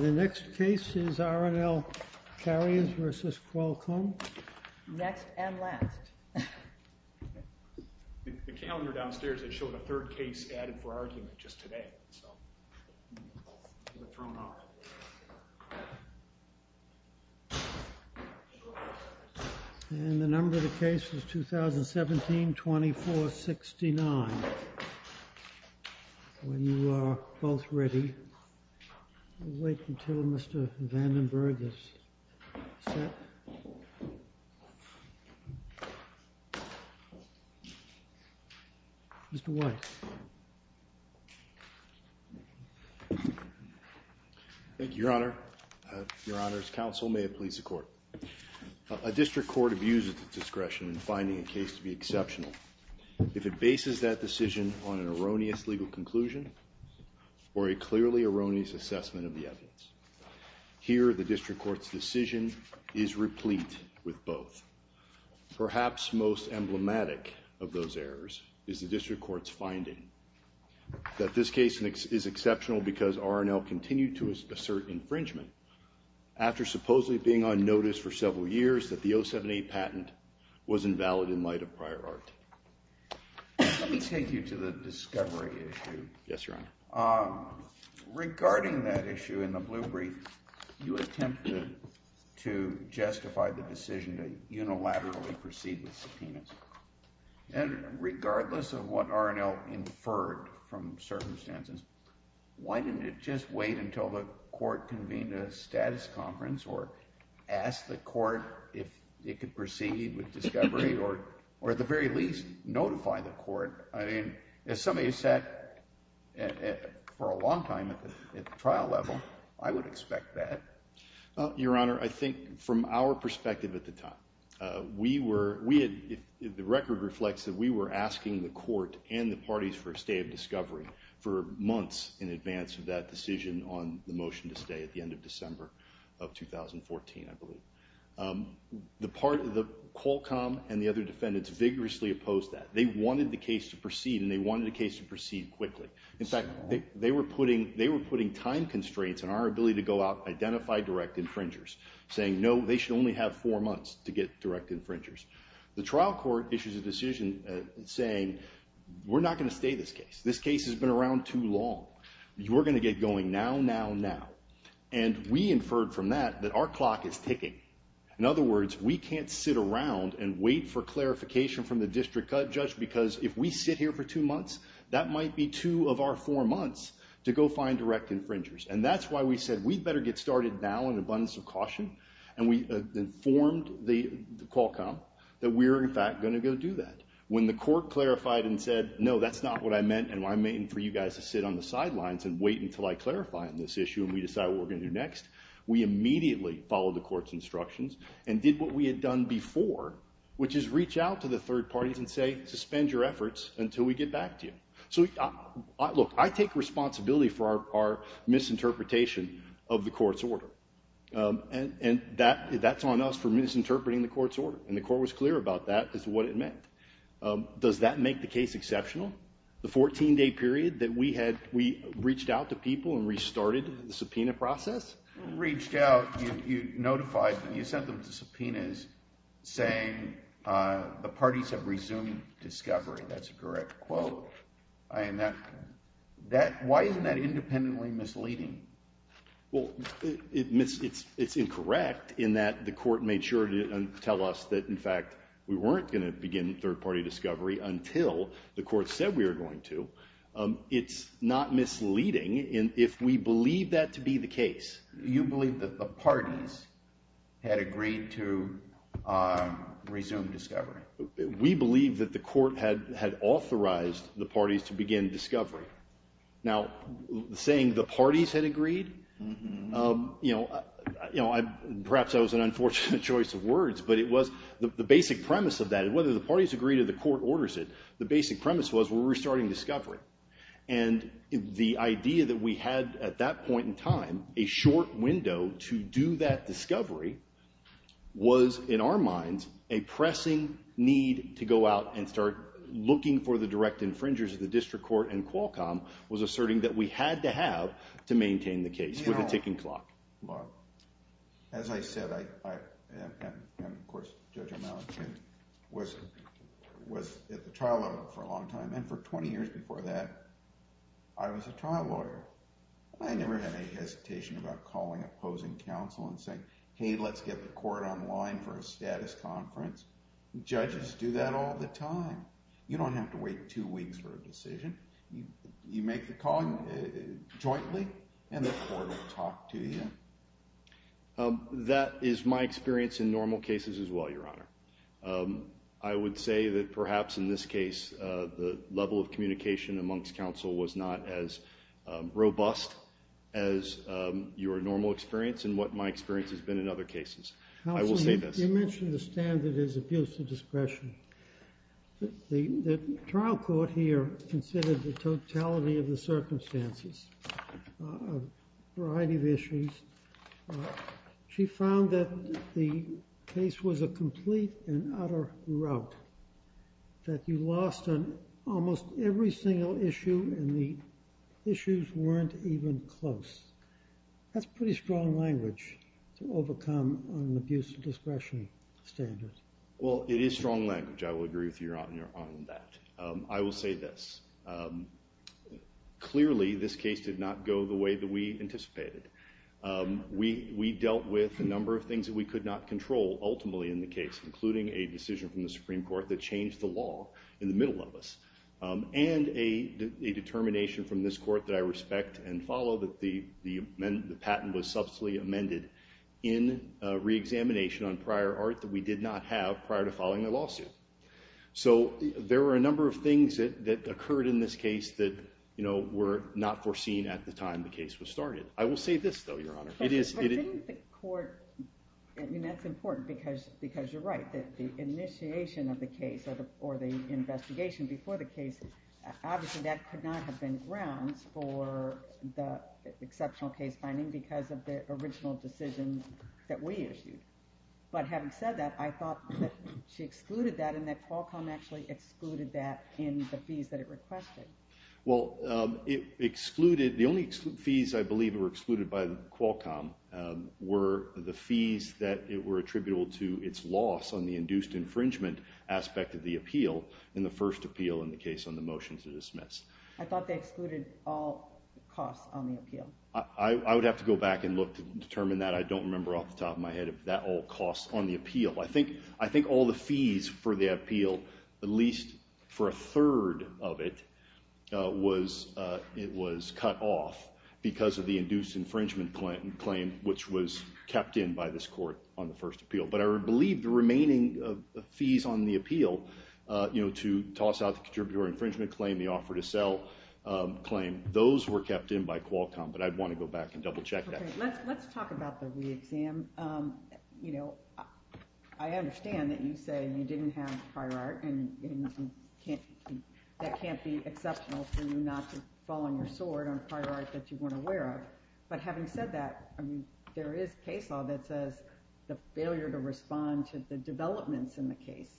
The next case is R&L Carriers v. Qualcomm, Inc. The calendar downstairs, it showed a third case added for argument just today. And the number of the case is 2017-2469. When you are both ready, we'll wait until Mr. Vandenberg is set. Mr. White. Thank you, Your Honor. Your Honor, as counsel, may it please the Court. A district court abuses its discretion in finding a case to be exceptional if it bases that decision on an erroneous legal conclusion or a clearly erroneous assessment of the evidence. Here, the district court's decision is replete with both. Perhaps most emblematic of those errors is the district court's finding that this case is exceptional because R&L continued to assert infringement after supposedly being on notice for several years that the 078 patent was invalid in light of prior art. Let me take you to the discovery issue. Yes, Your Honor. Regarding that issue in the blue brief, you attempted to justify the decision to unilaterally proceed with subpoenas. And regardless of what R&L inferred from circumstances, why didn't it just wait until the court convened a status conference or ask the court if it could proceed with discovery or at the very least notify the court? I mean, as somebody who sat for a long time at the trial level, I would expect that. Your Honor, I think from our perspective at the time, the record reflects that we were asking the court and the parties for a stay of discovery for months in advance of that decision on the motion to stay at the end of December of 2014, I believe. Qualcomm and the other defendants vigorously opposed that. They wanted the case to proceed, and they wanted the case to proceed quickly. In fact, they were putting time constraints on our ability to go out and identify direct infringers, saying no, they should only have four months to get direct infringers. The trial court issues a decision saying we're not going to stay this case. This case has been around too long. We're going to get going now, now, now. And we inferred from that that our clock is ticking. In other words, we can't sit around and wait for clarification from the district judge because if we sit here for two months, that might be two of our four months to go find direct infringers. And that's why we said we'd better get started now in abundance of caution, and we informed Qualcomm that we're, in fact, going to go do that. When the court clarified and said, no, that's not what I meant, and I'm waiting for you guys to sit on the sidelines and wait until I clarify on this issue and we decide what we're going to do next, we immediately followed the court's instructions and did what we had done before, which is reach out to the third parties and say suspend your efforts until we get back to you. Look, I take responsibility for our misinterpretation of the court's order, and that's on us for misinterpreting the court's order, and the court was clear about that is what it meant. Does that make the case exceptional? The 14-day period that we reached out to people and restarted the subpoena process? When you reached out, you notified them, you sent them to subpoenas saying, the parties have resumed discovery. That's a correct quote. Why isn't that independently misleading? Well, it's incorrect in that the court made sure to tell us that, in fact, we weren't going to begin third-party discovery until the court said we were going to. It's not misleading if we believe that to be the case. You believe that the parties had agreed to resume discovery. We believe that the court had authorized the parties to begin discovery. Now, saying the parties had agreed, perhaps that was an unfortunate choice of words, but it was the basic premise of that. Whether the parties agreed or the court orders it, the basic premise was we were restarting discovery. And the idea that we had at that point in time a short window to do that discovery was, in our minds, a pressing need to go out and start looking for the direct infringers of the district court and Qualcomm was asserting that we had to have to maintain the case with a ticking clock. As I said, I am, of course, Judge O'Malley. I was at the trial level for a long time, and for 20 years before that, I was a trial lawyer. I never had any hesitation about calling opposing counsel and saying, hey, let's get the court online for a status conference. Judges do that all the time. You make the call jointly, and the court will talk to you. That is my experience in normal cases as well, Your Honor. I would say that perhaps in this case the level of communication amongst counsel was not as robust as your normal experience and what my experience has been in other cases. I will say this. Counsel, you mentioned the standard is abuse of discretion. The trial court here considered the totality of the circumstances, a variety of issues. She found that the case was a complete and utter rout, that you lost on almost every single issue and the issues weren't even close. That's pretty strong language to overcome an abuse of discretion standard. Well, it is strong language. I will agree with you on that. I will say this. Clearly, this case did not go the way that we anticipated. We dealt with a number of things that we could not control ultimately in the case, including a decision from the Supreme Court that changed the law in the middle of us and a determination from this court that I respect and follow that the patent was subsequently amended in re-examination on prior art that we did not have prior to filing the lawsuit. So there were a number of things that occurred in this case that were not foreseen at the time the case was started. I will say this, though, Your Honor. But didn't the court, and that's important because you're right, that the initiation of the case or the investigation before the case, obviously that could not have been grounds for the exceptional case finding because of the original decision that we issued. But having said that, I thought that she excluded that and that Qualcomm actually excluded that in the fees that it requested. Well, the only fees I believe were excluded by Qualcomm were the fees that were attributable to its loss on the induced infringement aspect of the appeal in the first appeal in the case on the motion to dismiss. I thought they excluded all costs on the appeal. I would have to go back and look to determine that. I don't remember off the top of my head if that all costs on the appeal. I think all the fees for the appeal, at least for a third of it, was cut off because of the induced infringement claim which was kept in by this court on the first appeal. But I believe the remaining fees on the appeal to toss out the contributor infringement claim, the offer to sell claim, those were kept in by Qualcomm, but I'd want to go back and double check that. Let's talk about the re-exam. I understand that you say you didn't have prior art and that can't be exceptional for you not to fall on your sword on prior art that you weren't aware of. But having said that, there is case law that says the failure to respond to the developments in the case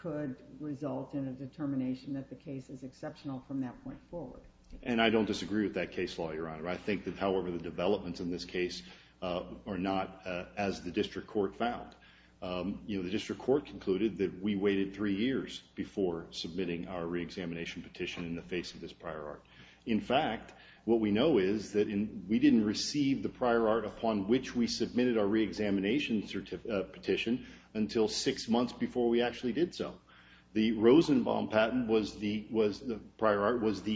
could result in a determination that the case is exceptional from that point forward. And I don't disagree with that case law, Your Honor. I think that, however, the developments in this case are not as the district court found. The district court concluded that we waited three years before submitting our re-examination petition in the face of this prior art. In fact, what we know is that we didn't receive the prior art upon which we submitted our re-examination petition until six months before we actually did so. The Rosenbaum patent was the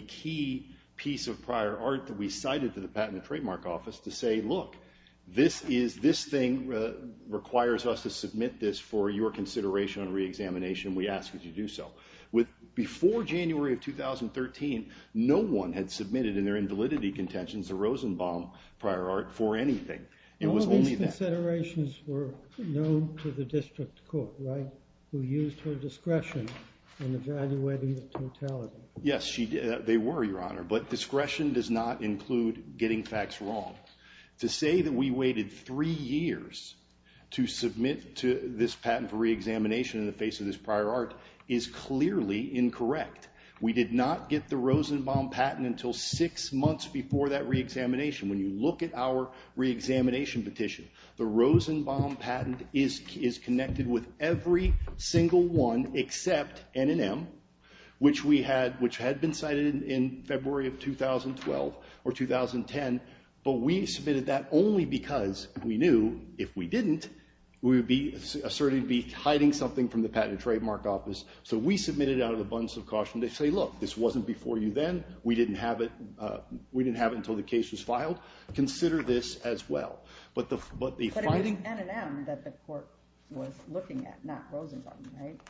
key piece of prior art that we cited to the Patent and Trademark Office to say, look, this thing requires us to submit this for your consideration on re-examination. We ask that you do so. Before January of 2013, no one had submitted in their invalidity contentions the Rosenbaum prior art for anything. All these considerations were known to the district court, right? Who used her discretion in evaluating the totality. Yes, they were, Your Honor. But discretion does not include getting facts wrong. To say that we waited three years to submit this patent for re-examination in the face of this prior art is clearly incorrect. We did not get the Rosenbaum patent until six months before that re-examination. When you look at our re-examination petition, the Rosenbaum patent is connected with every single one except N&M, which had been cited in February of 2012 or 2010, but we submitted that only because we knew if we didn't, we would certainly be hiding something from the Patent and Trademark Office. So we submitted it out of a bunch of caution. They say, look, this wasn't before you then. We didn't have it until the case was filed. Consider this as well. But the fighting... But it was N&M that the court was looking at, not Rosenbaum, right?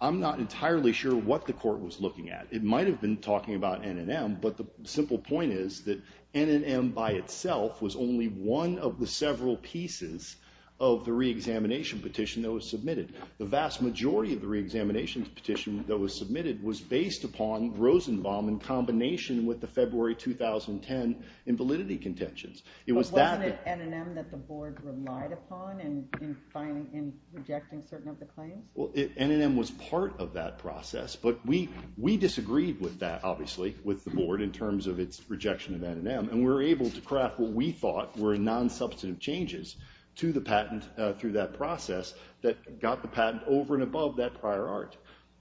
I'm not entirely sure what the court was looking at. It might have been talking about N&M, but the simple point is that N&M by itself was only one of the several pieces of the re-examination petition that was submitted. The vast majority of the re-examination petition that was submitted was based upon Rosenbaum in combination with the February 2010 invalidity contentions. But wasn't it N&M that the board relied upon in rejecting certain of the claims? Well, N&M was part of that process, but we disagreed with that, obviously, with the board in terms of its rejection of N&M, and we were able to craft what we thought were nonsubstantive changes to the patent through that process that got the patent over and above that prior art.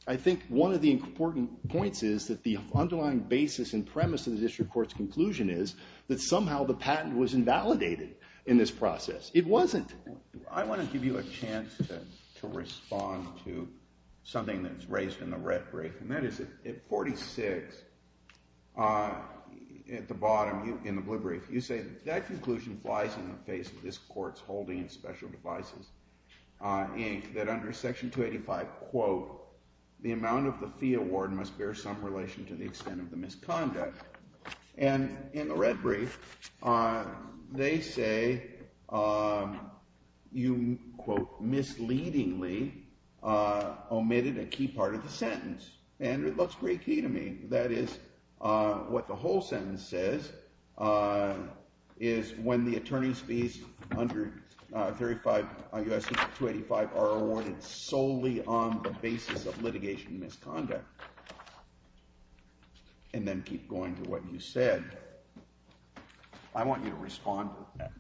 I think one of the important points is that the underlying basis and premise of the district court's conclusion is that somehow the patent was invalidated in this process. It wasn't. I want to give you a chance to respond to something that's raised in the red brief, and that is at 46, at the bottom in the blue brief, you say that that conclusion flies in the face of this court's holding in Special Devices, Inc., that under Section 285, quote, the amount of the fee award must bear some relation to the extent of the misconduct. And in the red brief, they say you, quote, misleadingly omitted a key part of the sentence, and it looks pretty key to me. That is, what the whole sentence says is when the attorney's fees under 35 U.S. 285 are awarded solely on the basis of litigation and misconduct. And then keep going to what you said. I want you to respond to that.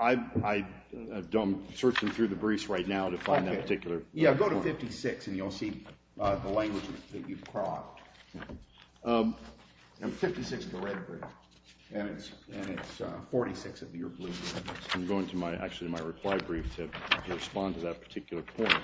I'm searching through the briefs right now to find that particular point. Yeah, go to 56, and you'll see the language that you've cropped. 56, the red brief, and it's 46 of your blue briefs. I'm going to actually my required brief to respond to that particular point.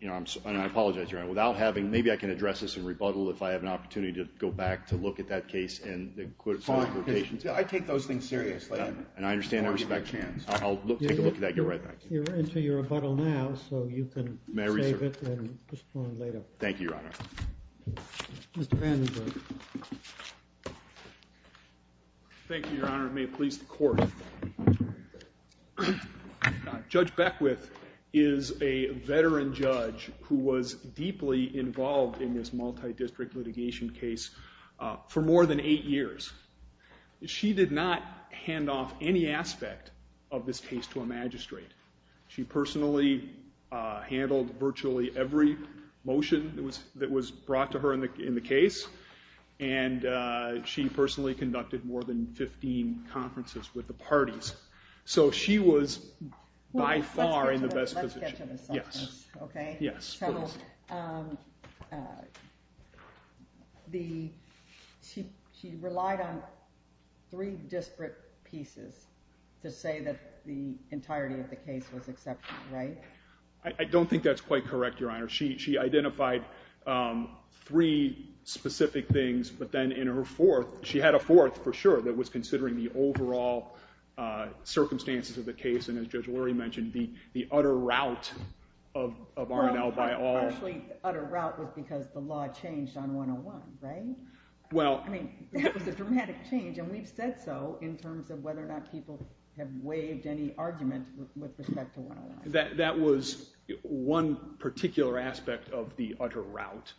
I apologize, Your Honor. Maybe I can address this in rebuttal if I have an opportunity to go back to look at that case Fine. I take those things seriously. And I understand and respect your hands. I'll take a look at that and get right back to you. You're into your rebuttal now, so you can save it and respond later. Thank you, Your Honor. Mr. Vandenberg. Thank you, Your Honor. May it please the court. Judge Beckwith is a veteran judge who was deeply involved in this multi-district litigation case for more than eight years. She did not hand off any aspect of this case to a magistrate. She personally handled virtually every motion that was brought to her in the case, and she personally conducted more than 15 conferences with the parties. So she was by far in the best position. Let's get to the substance, OK? Yes, please. She relied on three disparate pieces to say that the entirety of the case was exceptional, right? I don't think that's quite correct, Your Honor. She identified three specific things, but then in her fourth, she had a fourth for sure that was considering the overall circumstances of the case. And as Judge Lurie mentioned, the utter rout of R&L by all. Well, actually, the utter rout was because the law changed on 101, right? I mean, that was a dramatic change, and we've said so in terms of whether or not people have waived any argument with respect to 101. That was one particular aspect of the utter rout.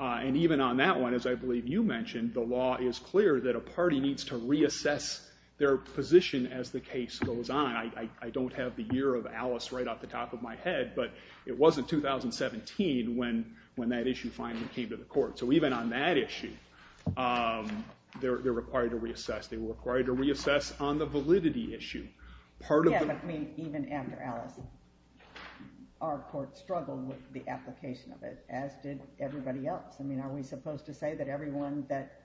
And even on that one, as I believe you mentioned, the law is clear that a party needs to reassess their position as the case goes on. I don't have the year of Alice right off the top of my head, but it was in 2017 when that issue finally came to the court. So even on that issue, they're required to reassess. They were required to reassess on the validity issue. Yeah, but I mean, even after Alice, our court struggled with the application of it, as did everybody else. I mean, are we supposed to say that everyone that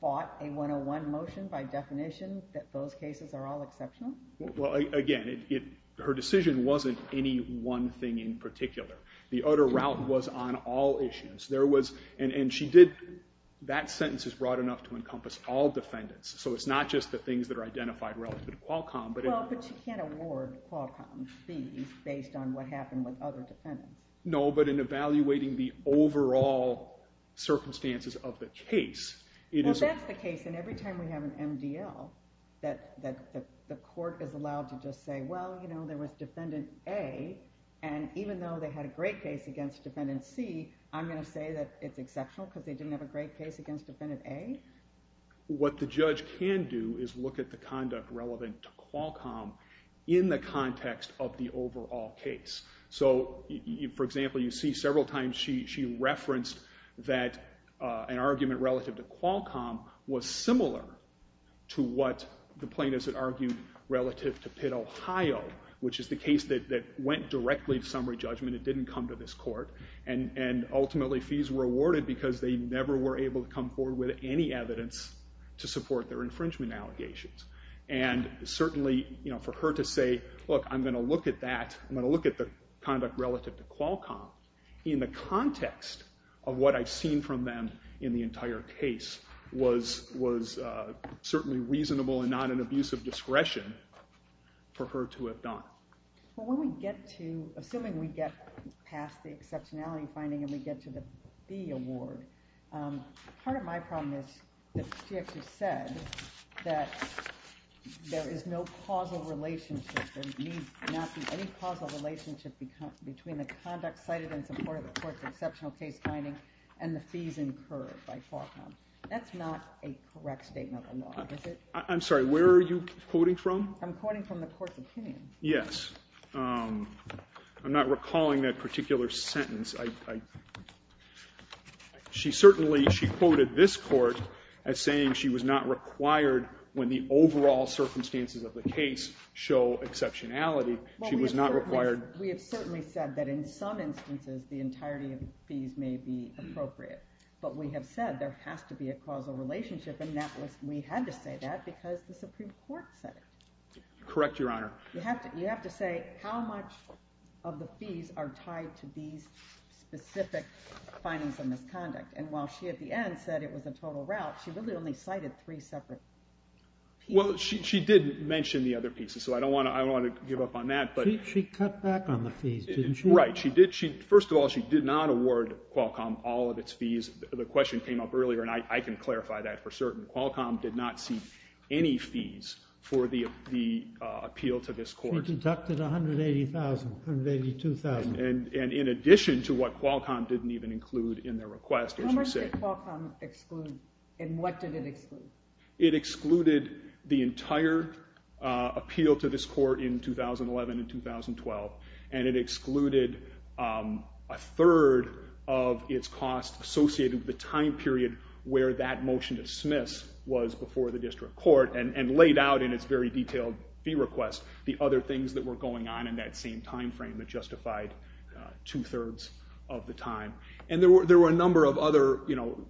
fought a 101 motion by definition, that those cases are all exceptional? Well, again, her decision wasn't any one thing in particular. The utter rout was on all issues. There was, and she did, that sentence is broad enough to encompass all defendants. So it's not just the things that are identified relative to Qualcomm. Well, but you can't award Qualcomm fees based on what happened with other defendants. No, but in evaluating the overall circumstances of the case, it is. Well, that's the case. And every time we have an MDL, that the court is allowed to just say, well, you know, there was defendant A, and even though they had a great case against defendant C, I'm going to say that it's exceptional because they didn't have a great case against defendant A? What the judge can do is look at the conduct relevant to Qualcomm in the context of the overall case. So, for example, you see several times she referenced that an argument relative to Qualcomm was similar to what the plaintiffs had argued relative to Pitt, Ohio, which is the case that went directly to summary judgment. It didn't come to this court. And ultimately, fees were awarded because they never were able to come forward with any evidence to support their infringement allegations. And certainly, you know, for her to say, look, I'm going to look at the conduct relative to Qualcomm in the context of what I've seen from them in the entire case was certainly reasonable and not an abuse of discretion for her to have done. Well, when we get to, assuming we get past the exceptionality finding and we get to the fee award, part of my problem is that she actually said that there is no causal relationship, there need not be any causal relationship between the conduct cited in support of the court's exceptional case finding and the fees incurred by Qualcomm. That's not a correct statement of the law, is it? I'm sorry, where are you quoting from? I'm quoting from the court's opinion. Yes. I'm not recalling that particular sentence. She certainly, she quoted this court as saying she was not required when the overall circumstances of the case show exceptionality, she was not required... Well, we have certainly said that in some instances the entirety of the fees may be appropriate. But we have said there has to be a causal relationship and we had to say that because the Supreme Court said it. Correct, Your Honor. You have to say how much of the fees are tied to these specific findings of misconduct. And while she at the end said it was a total rout, she really only cited three separate pieces. Well, she did mention the other pieces, so I don't want to give up on that. She cut back on the fees, didn't she? Right, she did. First of all, she did not award Qualcomm all of its fees. The question came up earlier and I can clarify that for certain. Qualcomm did not see any fees for the appeal to this court. She deducted $180,000, $182,000. And in addition to what Qualcomm didn't even include in their request. How much did Qualcomm exclude? And what did it exclude? It excluded the entire appeal to this court in 2011 and 2012. And it excluded a third of its cost associated with the time period where that motion to dismiss was before the district court and laid out in its very detailed fee request the other things that were going on in that same time frame that justified two-thirds of the time. And there were a number of other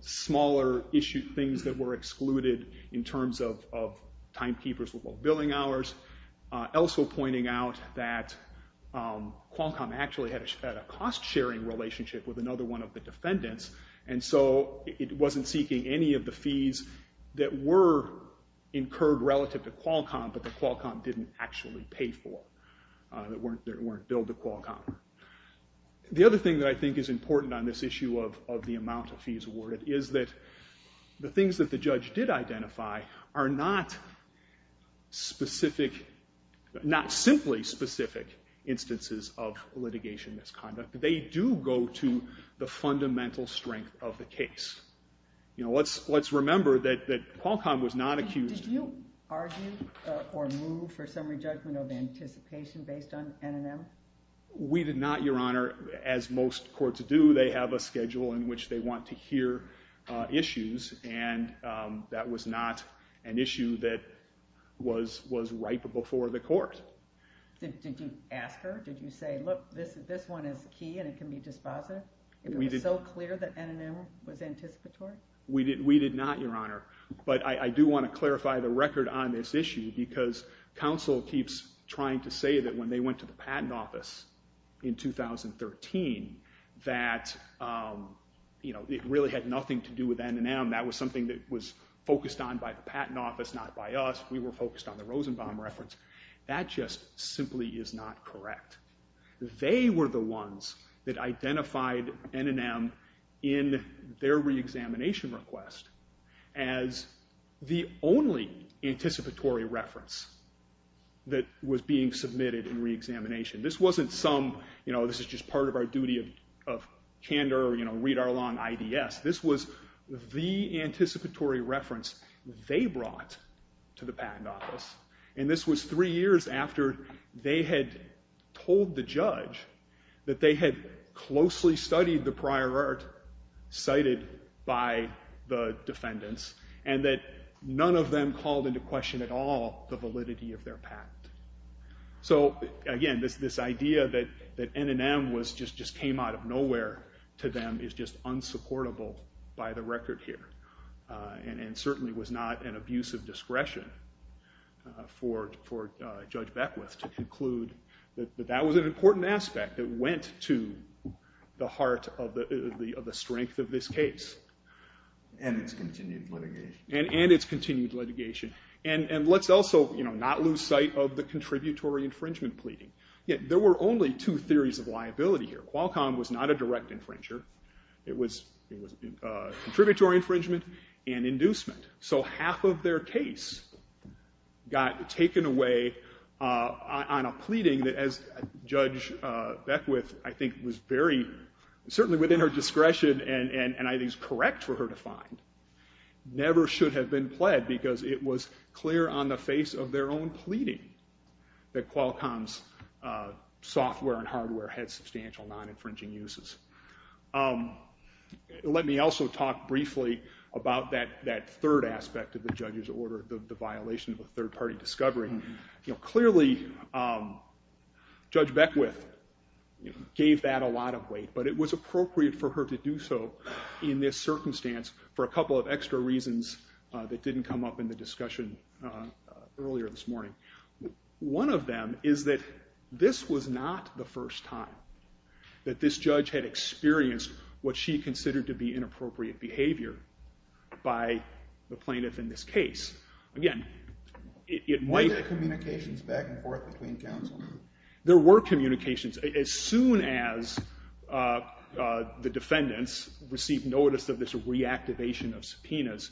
smaller issue things that were excluded in terms of timekeepers with low billing hours. Also pointing out that Qualcomm actually had a cost-sharing relationship with another one of the defendants, and so it wasn't seeking any of the fees that were incurred relative to Qualcomm, but that Qualcomm didn't actually pay for, that weren't billed to Qualcomm. The other thing that I think is important on this issue of the amount of fees awarded is that the things that the judge did identify are not simply specific instances of litigation misconduct. They do go to the fundamental strength of the case. Let's remember that Qualcomm was not accused... Did you argue or move for summary judgment of anticipation based on N&M? We did not, Your Honor. As most courts do, they have a schedule in which they want to hear issues, and that was not an issue that was right before the court. Did you ask her? Did you say, look, this one is key and it can be dispositive? It was so clear that N&M was anticipatory? We did not, Your Honor. But I do want to clarify the record on this issue because counsel keeps trying to say that when they went to the Patent Office in 2013 that it really had nothing to do with N&M. That was something that was focused on by the Patent Office, not by us. We were focused on the Rosenbaum reference. That just simply is not correct. They were the ones that identified N&M in their reexamination request as the only anticipatory reference that was being submitted in reexamination. This wasn't some, you know, this is just part of our duty of candor, you know, read our law in IDS. This was the anticipatory reference they brought to the Patent Office, and this was three years after they had told the judge that they had closely studied the prior art cited by the defendants and that none of them called into question at all the validity of their patent. So, again, this idea that N&M just came out of nowhere to them is just unsupportable by the record here and certainly was not an abuse of discretion for Judge Beckwith to conclude that that was an important aspect that went to the heart of the strength of this case. And its continued litigation. And its continued litigation. And let's also not lose sight of the contributory infringement pleading. There were only two theories of liability here. Qualcomm was not a direct infringer. It was contributory infringement and inducement. So half of their case got taken away on a pleading that, as Judge Beckwith, I think was very, certainly within her discretion and I think is correct for her to find, never should have been pled because it was clear on the face of their own pleading that Qualcomm's software and hardware had substantial non-infringing uses. Let me also talk briefly about that third aspect of the judge's order, the violation of a third-party discovery. Clearly, Judge Beckwith gave that a lot of weight, but it was appropriate for her to do so in this circumstance for a couple of extra reasons that didn't come up in the discussion earlier this morning. One of them is that this was not the first time that this judge had experienced what she considered to be inappropriate behavior by the plaintiff in this case. Again, it might... Were there communications back and forth between counsel? There were communications. As soon as the defendants received notice of this reactivation of subpoenas,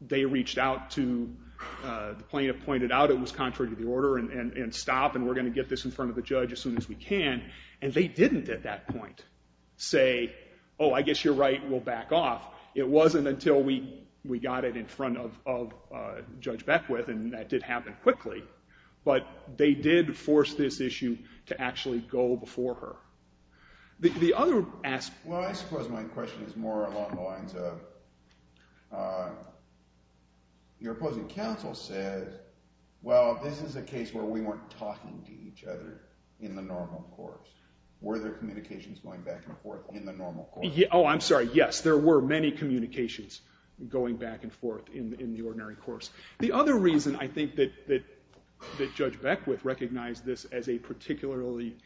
they reached out to... The plaintiff pointed out it was contrary to the order and stopped and we're going to get this in front of the judge as soon as we can, and they didn't at that point say, oh, I guess you're right, we'll back off. It wasn't until we got it in front of Judge Beckwith, and that did happen quickly, but they did force this issue to actually go before her. The other aspect... Well, I suppose my question is more along the lines of... Your opposing counsel said, well, this is a case where we weren't talking to each other in the normal course. Were there communications going back and forth in the normal course? Oh, I'm sorry. Yes, there were many communications going back and forth in the ordinary course. The other reason I think that Judge Beckwith recognized this as a particularly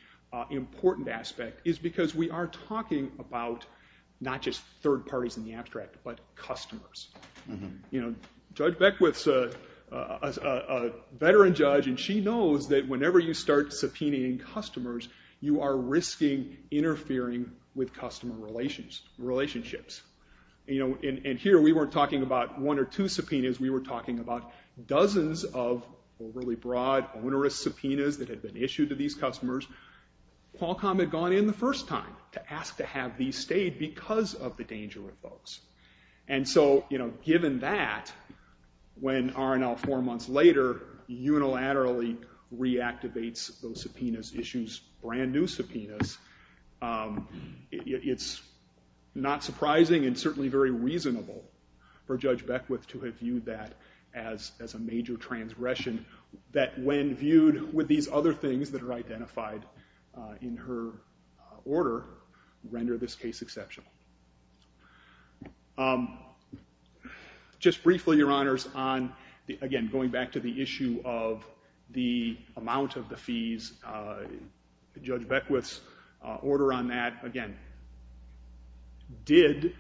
important aspect is because we are talking about not just third parties in the abstract, but customers. Judge Beckwith's a veteran judge, and she knows that whenever you start subpoenaing customers, you are risking interfering with customer relationships. And here we weren't talking about one or two subpoenas, we were talking about dozens of really broad, onerous subpoenas that had been issued to these customers. Qualcomm had gone in the first time to ask to have these stayed because of the danger of those. And so given that, when R&L four months later unilaterally reactivates those subpoenas, issues brand-new subpoenas, it's not surprising and certainly very reasonable for Judge Beckwith to have viewed that as a major transgression that when viewed with these other things that are identified in her order render this case exceptional. Just briefly, Your Honors, on, again, going back to the issue of the amount of the fees, Judge Beckwith's order on that, again, did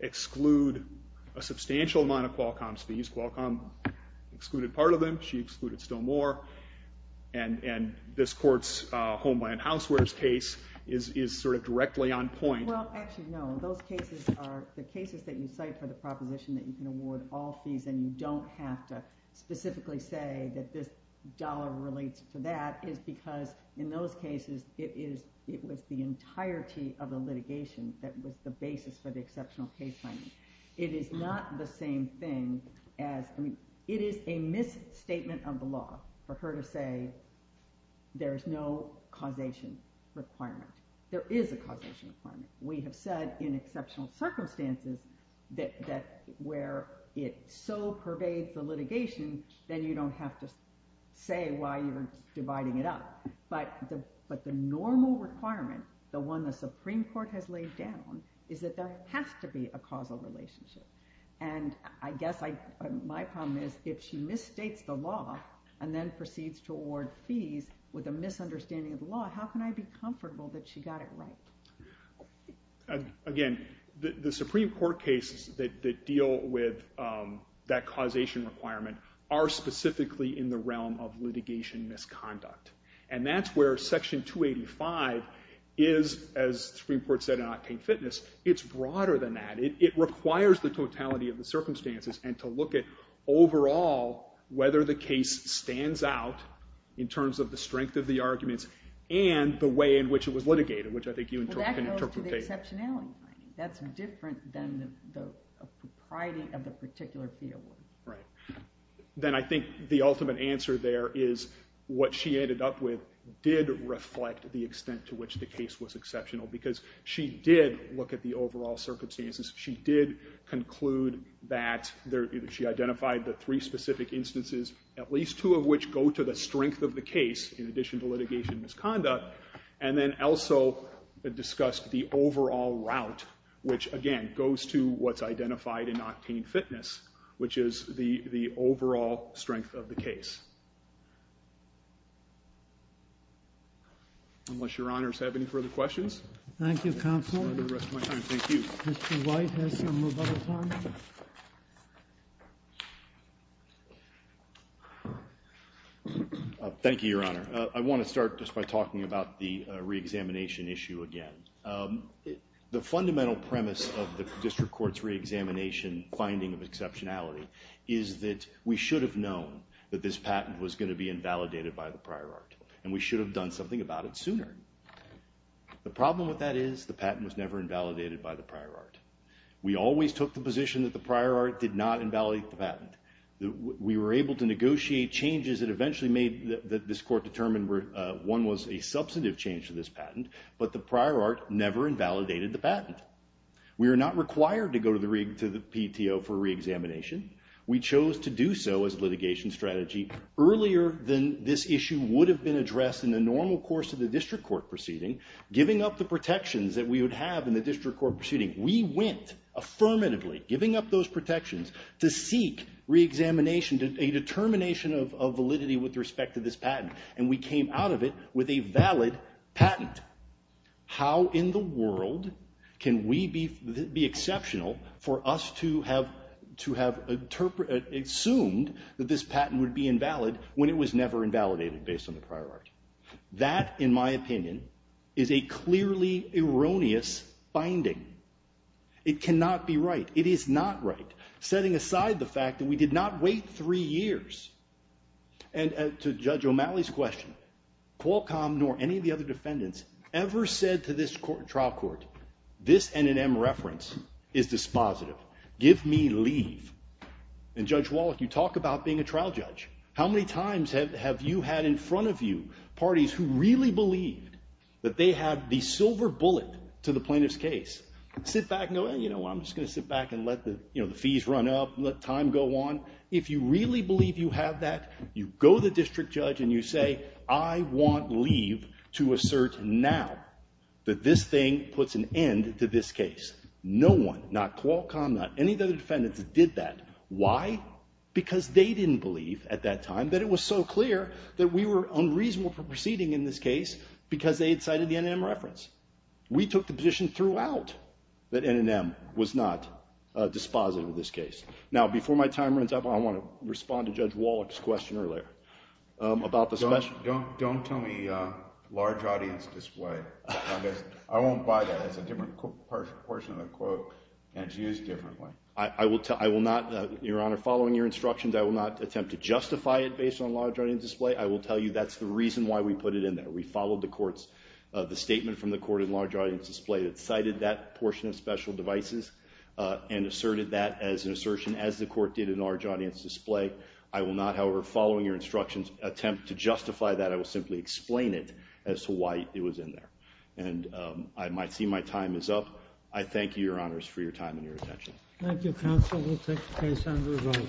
exclude a substantial amount of Qualcomm's fees. Qualcomm excluded part of them, she excluded still more, and this Court's Homeland Housewares case is sort of directly on point. Well, actually, no. Those cases are the cases that you cite for the proposition that you can award all fees and you don't have to specifically say that this dollar relates to that, is because in those cases it was the entirety of the litigation that was the basis for the exceptional case finding. It is not the same thing as, I mean, it is a misstatement of the law for her to say there is no causation requirement. There is a causation requirement. We have said in exceptional circumstances that where it so pervades the litigation, then you don't have to say why you're dividing it up. But the normal requirement, the one the Supreme Court has laid down, is that there has to be a causal relationship. And I guess my problem is if she misstates the law and then proceeds to award fees with a misunderstanding of the law, how can I be comfortable that she got it right? Again, the Supreme Court cases that deal with that causation requirement are specifically in the realm of litigation misconduct. And that's where Section 285 is, as the Supreme Court said in Octane Fitness, it's broader than that. It requires the totality of the circumstances and to look at overall whether the case stands out in terms of the strength of the arguments and the way in which it was litigated, which I think you can interpret as... Well, that goes to the exceptionality finding. That's different than the propriety of the particular field. Right. Then I think the ultimate answer there is what she ended up with did reflect the extent to which the case was exceptional because she did look at the overall circumstances. She did conclude that she identified the three specific instances, at least two of which go to the strength of the case in addition to litigation misconduct, and then also discussed the overall route, which again goes to what's identified in Octane Fitness, which is the overall strength of the case. Unless Your Honor has any further questions. Thank you, Counsel. Thank you. Mr. White has some more bubble time. Thank you, Your Honor. I want to start just by talking about the reexamination issue again. The fundamental premise of the district court's reexamination finding of exceptionality is that we should have known that this patent was going to be invalidated by the prior art, and we should have done something about it sooner. The problem with that is the patent was never invalidated by the prior art. We always took the position that the prior art did not invalidate the patent. We were able to negotiate changes that eventually made this court determine one was a substantive change to this patent, but the prior art never invalidated the patent. We were not required to go to the PTO for reexamination. We chose to do so as a litigation strategy earlier than this issue would have been addressed in the normal course of the district court proceeding, giving up the protections that we would have in the district court proceeding. We went affirmatively giving up those protections to seek reexamination, a determination of validity with respect to this patent, and we came out of it with a valid patent. How in the world can we be exceptional for us to have assumed that this patent would be invalid when it was never invalidated based on the prior art? That, in my opinion, is a clearly erroneous finding. It cannot be right. It is not right. Setting aside the fact that we did not wait three years, and to Judge O'Malley's question, Qualcomm nor any of the other defendants ever said to this trial court, this N&M reference is dispositive. Give me leave. And Judge Wallach, you talk about being a trial judge. How many times have you had in front of you parties who really believed that they had the silver bullet to the plaintiff's case? Sit back and go, you know, I'm just going to sit back and let the fees run up, let time go on. If you really believe you have that, you go to the district judge and you say, I want leave to assert now that this thing puts an end to this case. No one, not Qualcomm, not any of the other defendants that did that. Why? Because they didn't believe at that time that it was so clear that we were unreasonable for proceeding in this case because they had cited the N&M reference. We took the position throughout that N&M was not dispositive of this case. Now, before my time runs up, I want to respond to Judge Wallach's question earlier about the special. Don't tell me large audience display. I won't buy that. It's a different portion of the quote, and it's used differently. I will not, Your Honor, following your instructions, I will not attempt to justify it based on large audience display. I will tell you that's the reason why we put it in there. We followed the statement from the court in large audience display that cited that portion of special devices and asserted that as an assertion as the court did in large audience display. I will not, however, following your instructions, attempt to justify that. I will simply explain it as to why it was in there. And I might see my time is up. I thank you, Your Honors, for your time and your attention. Thank you, counsel. We'll take the case under review. All rise.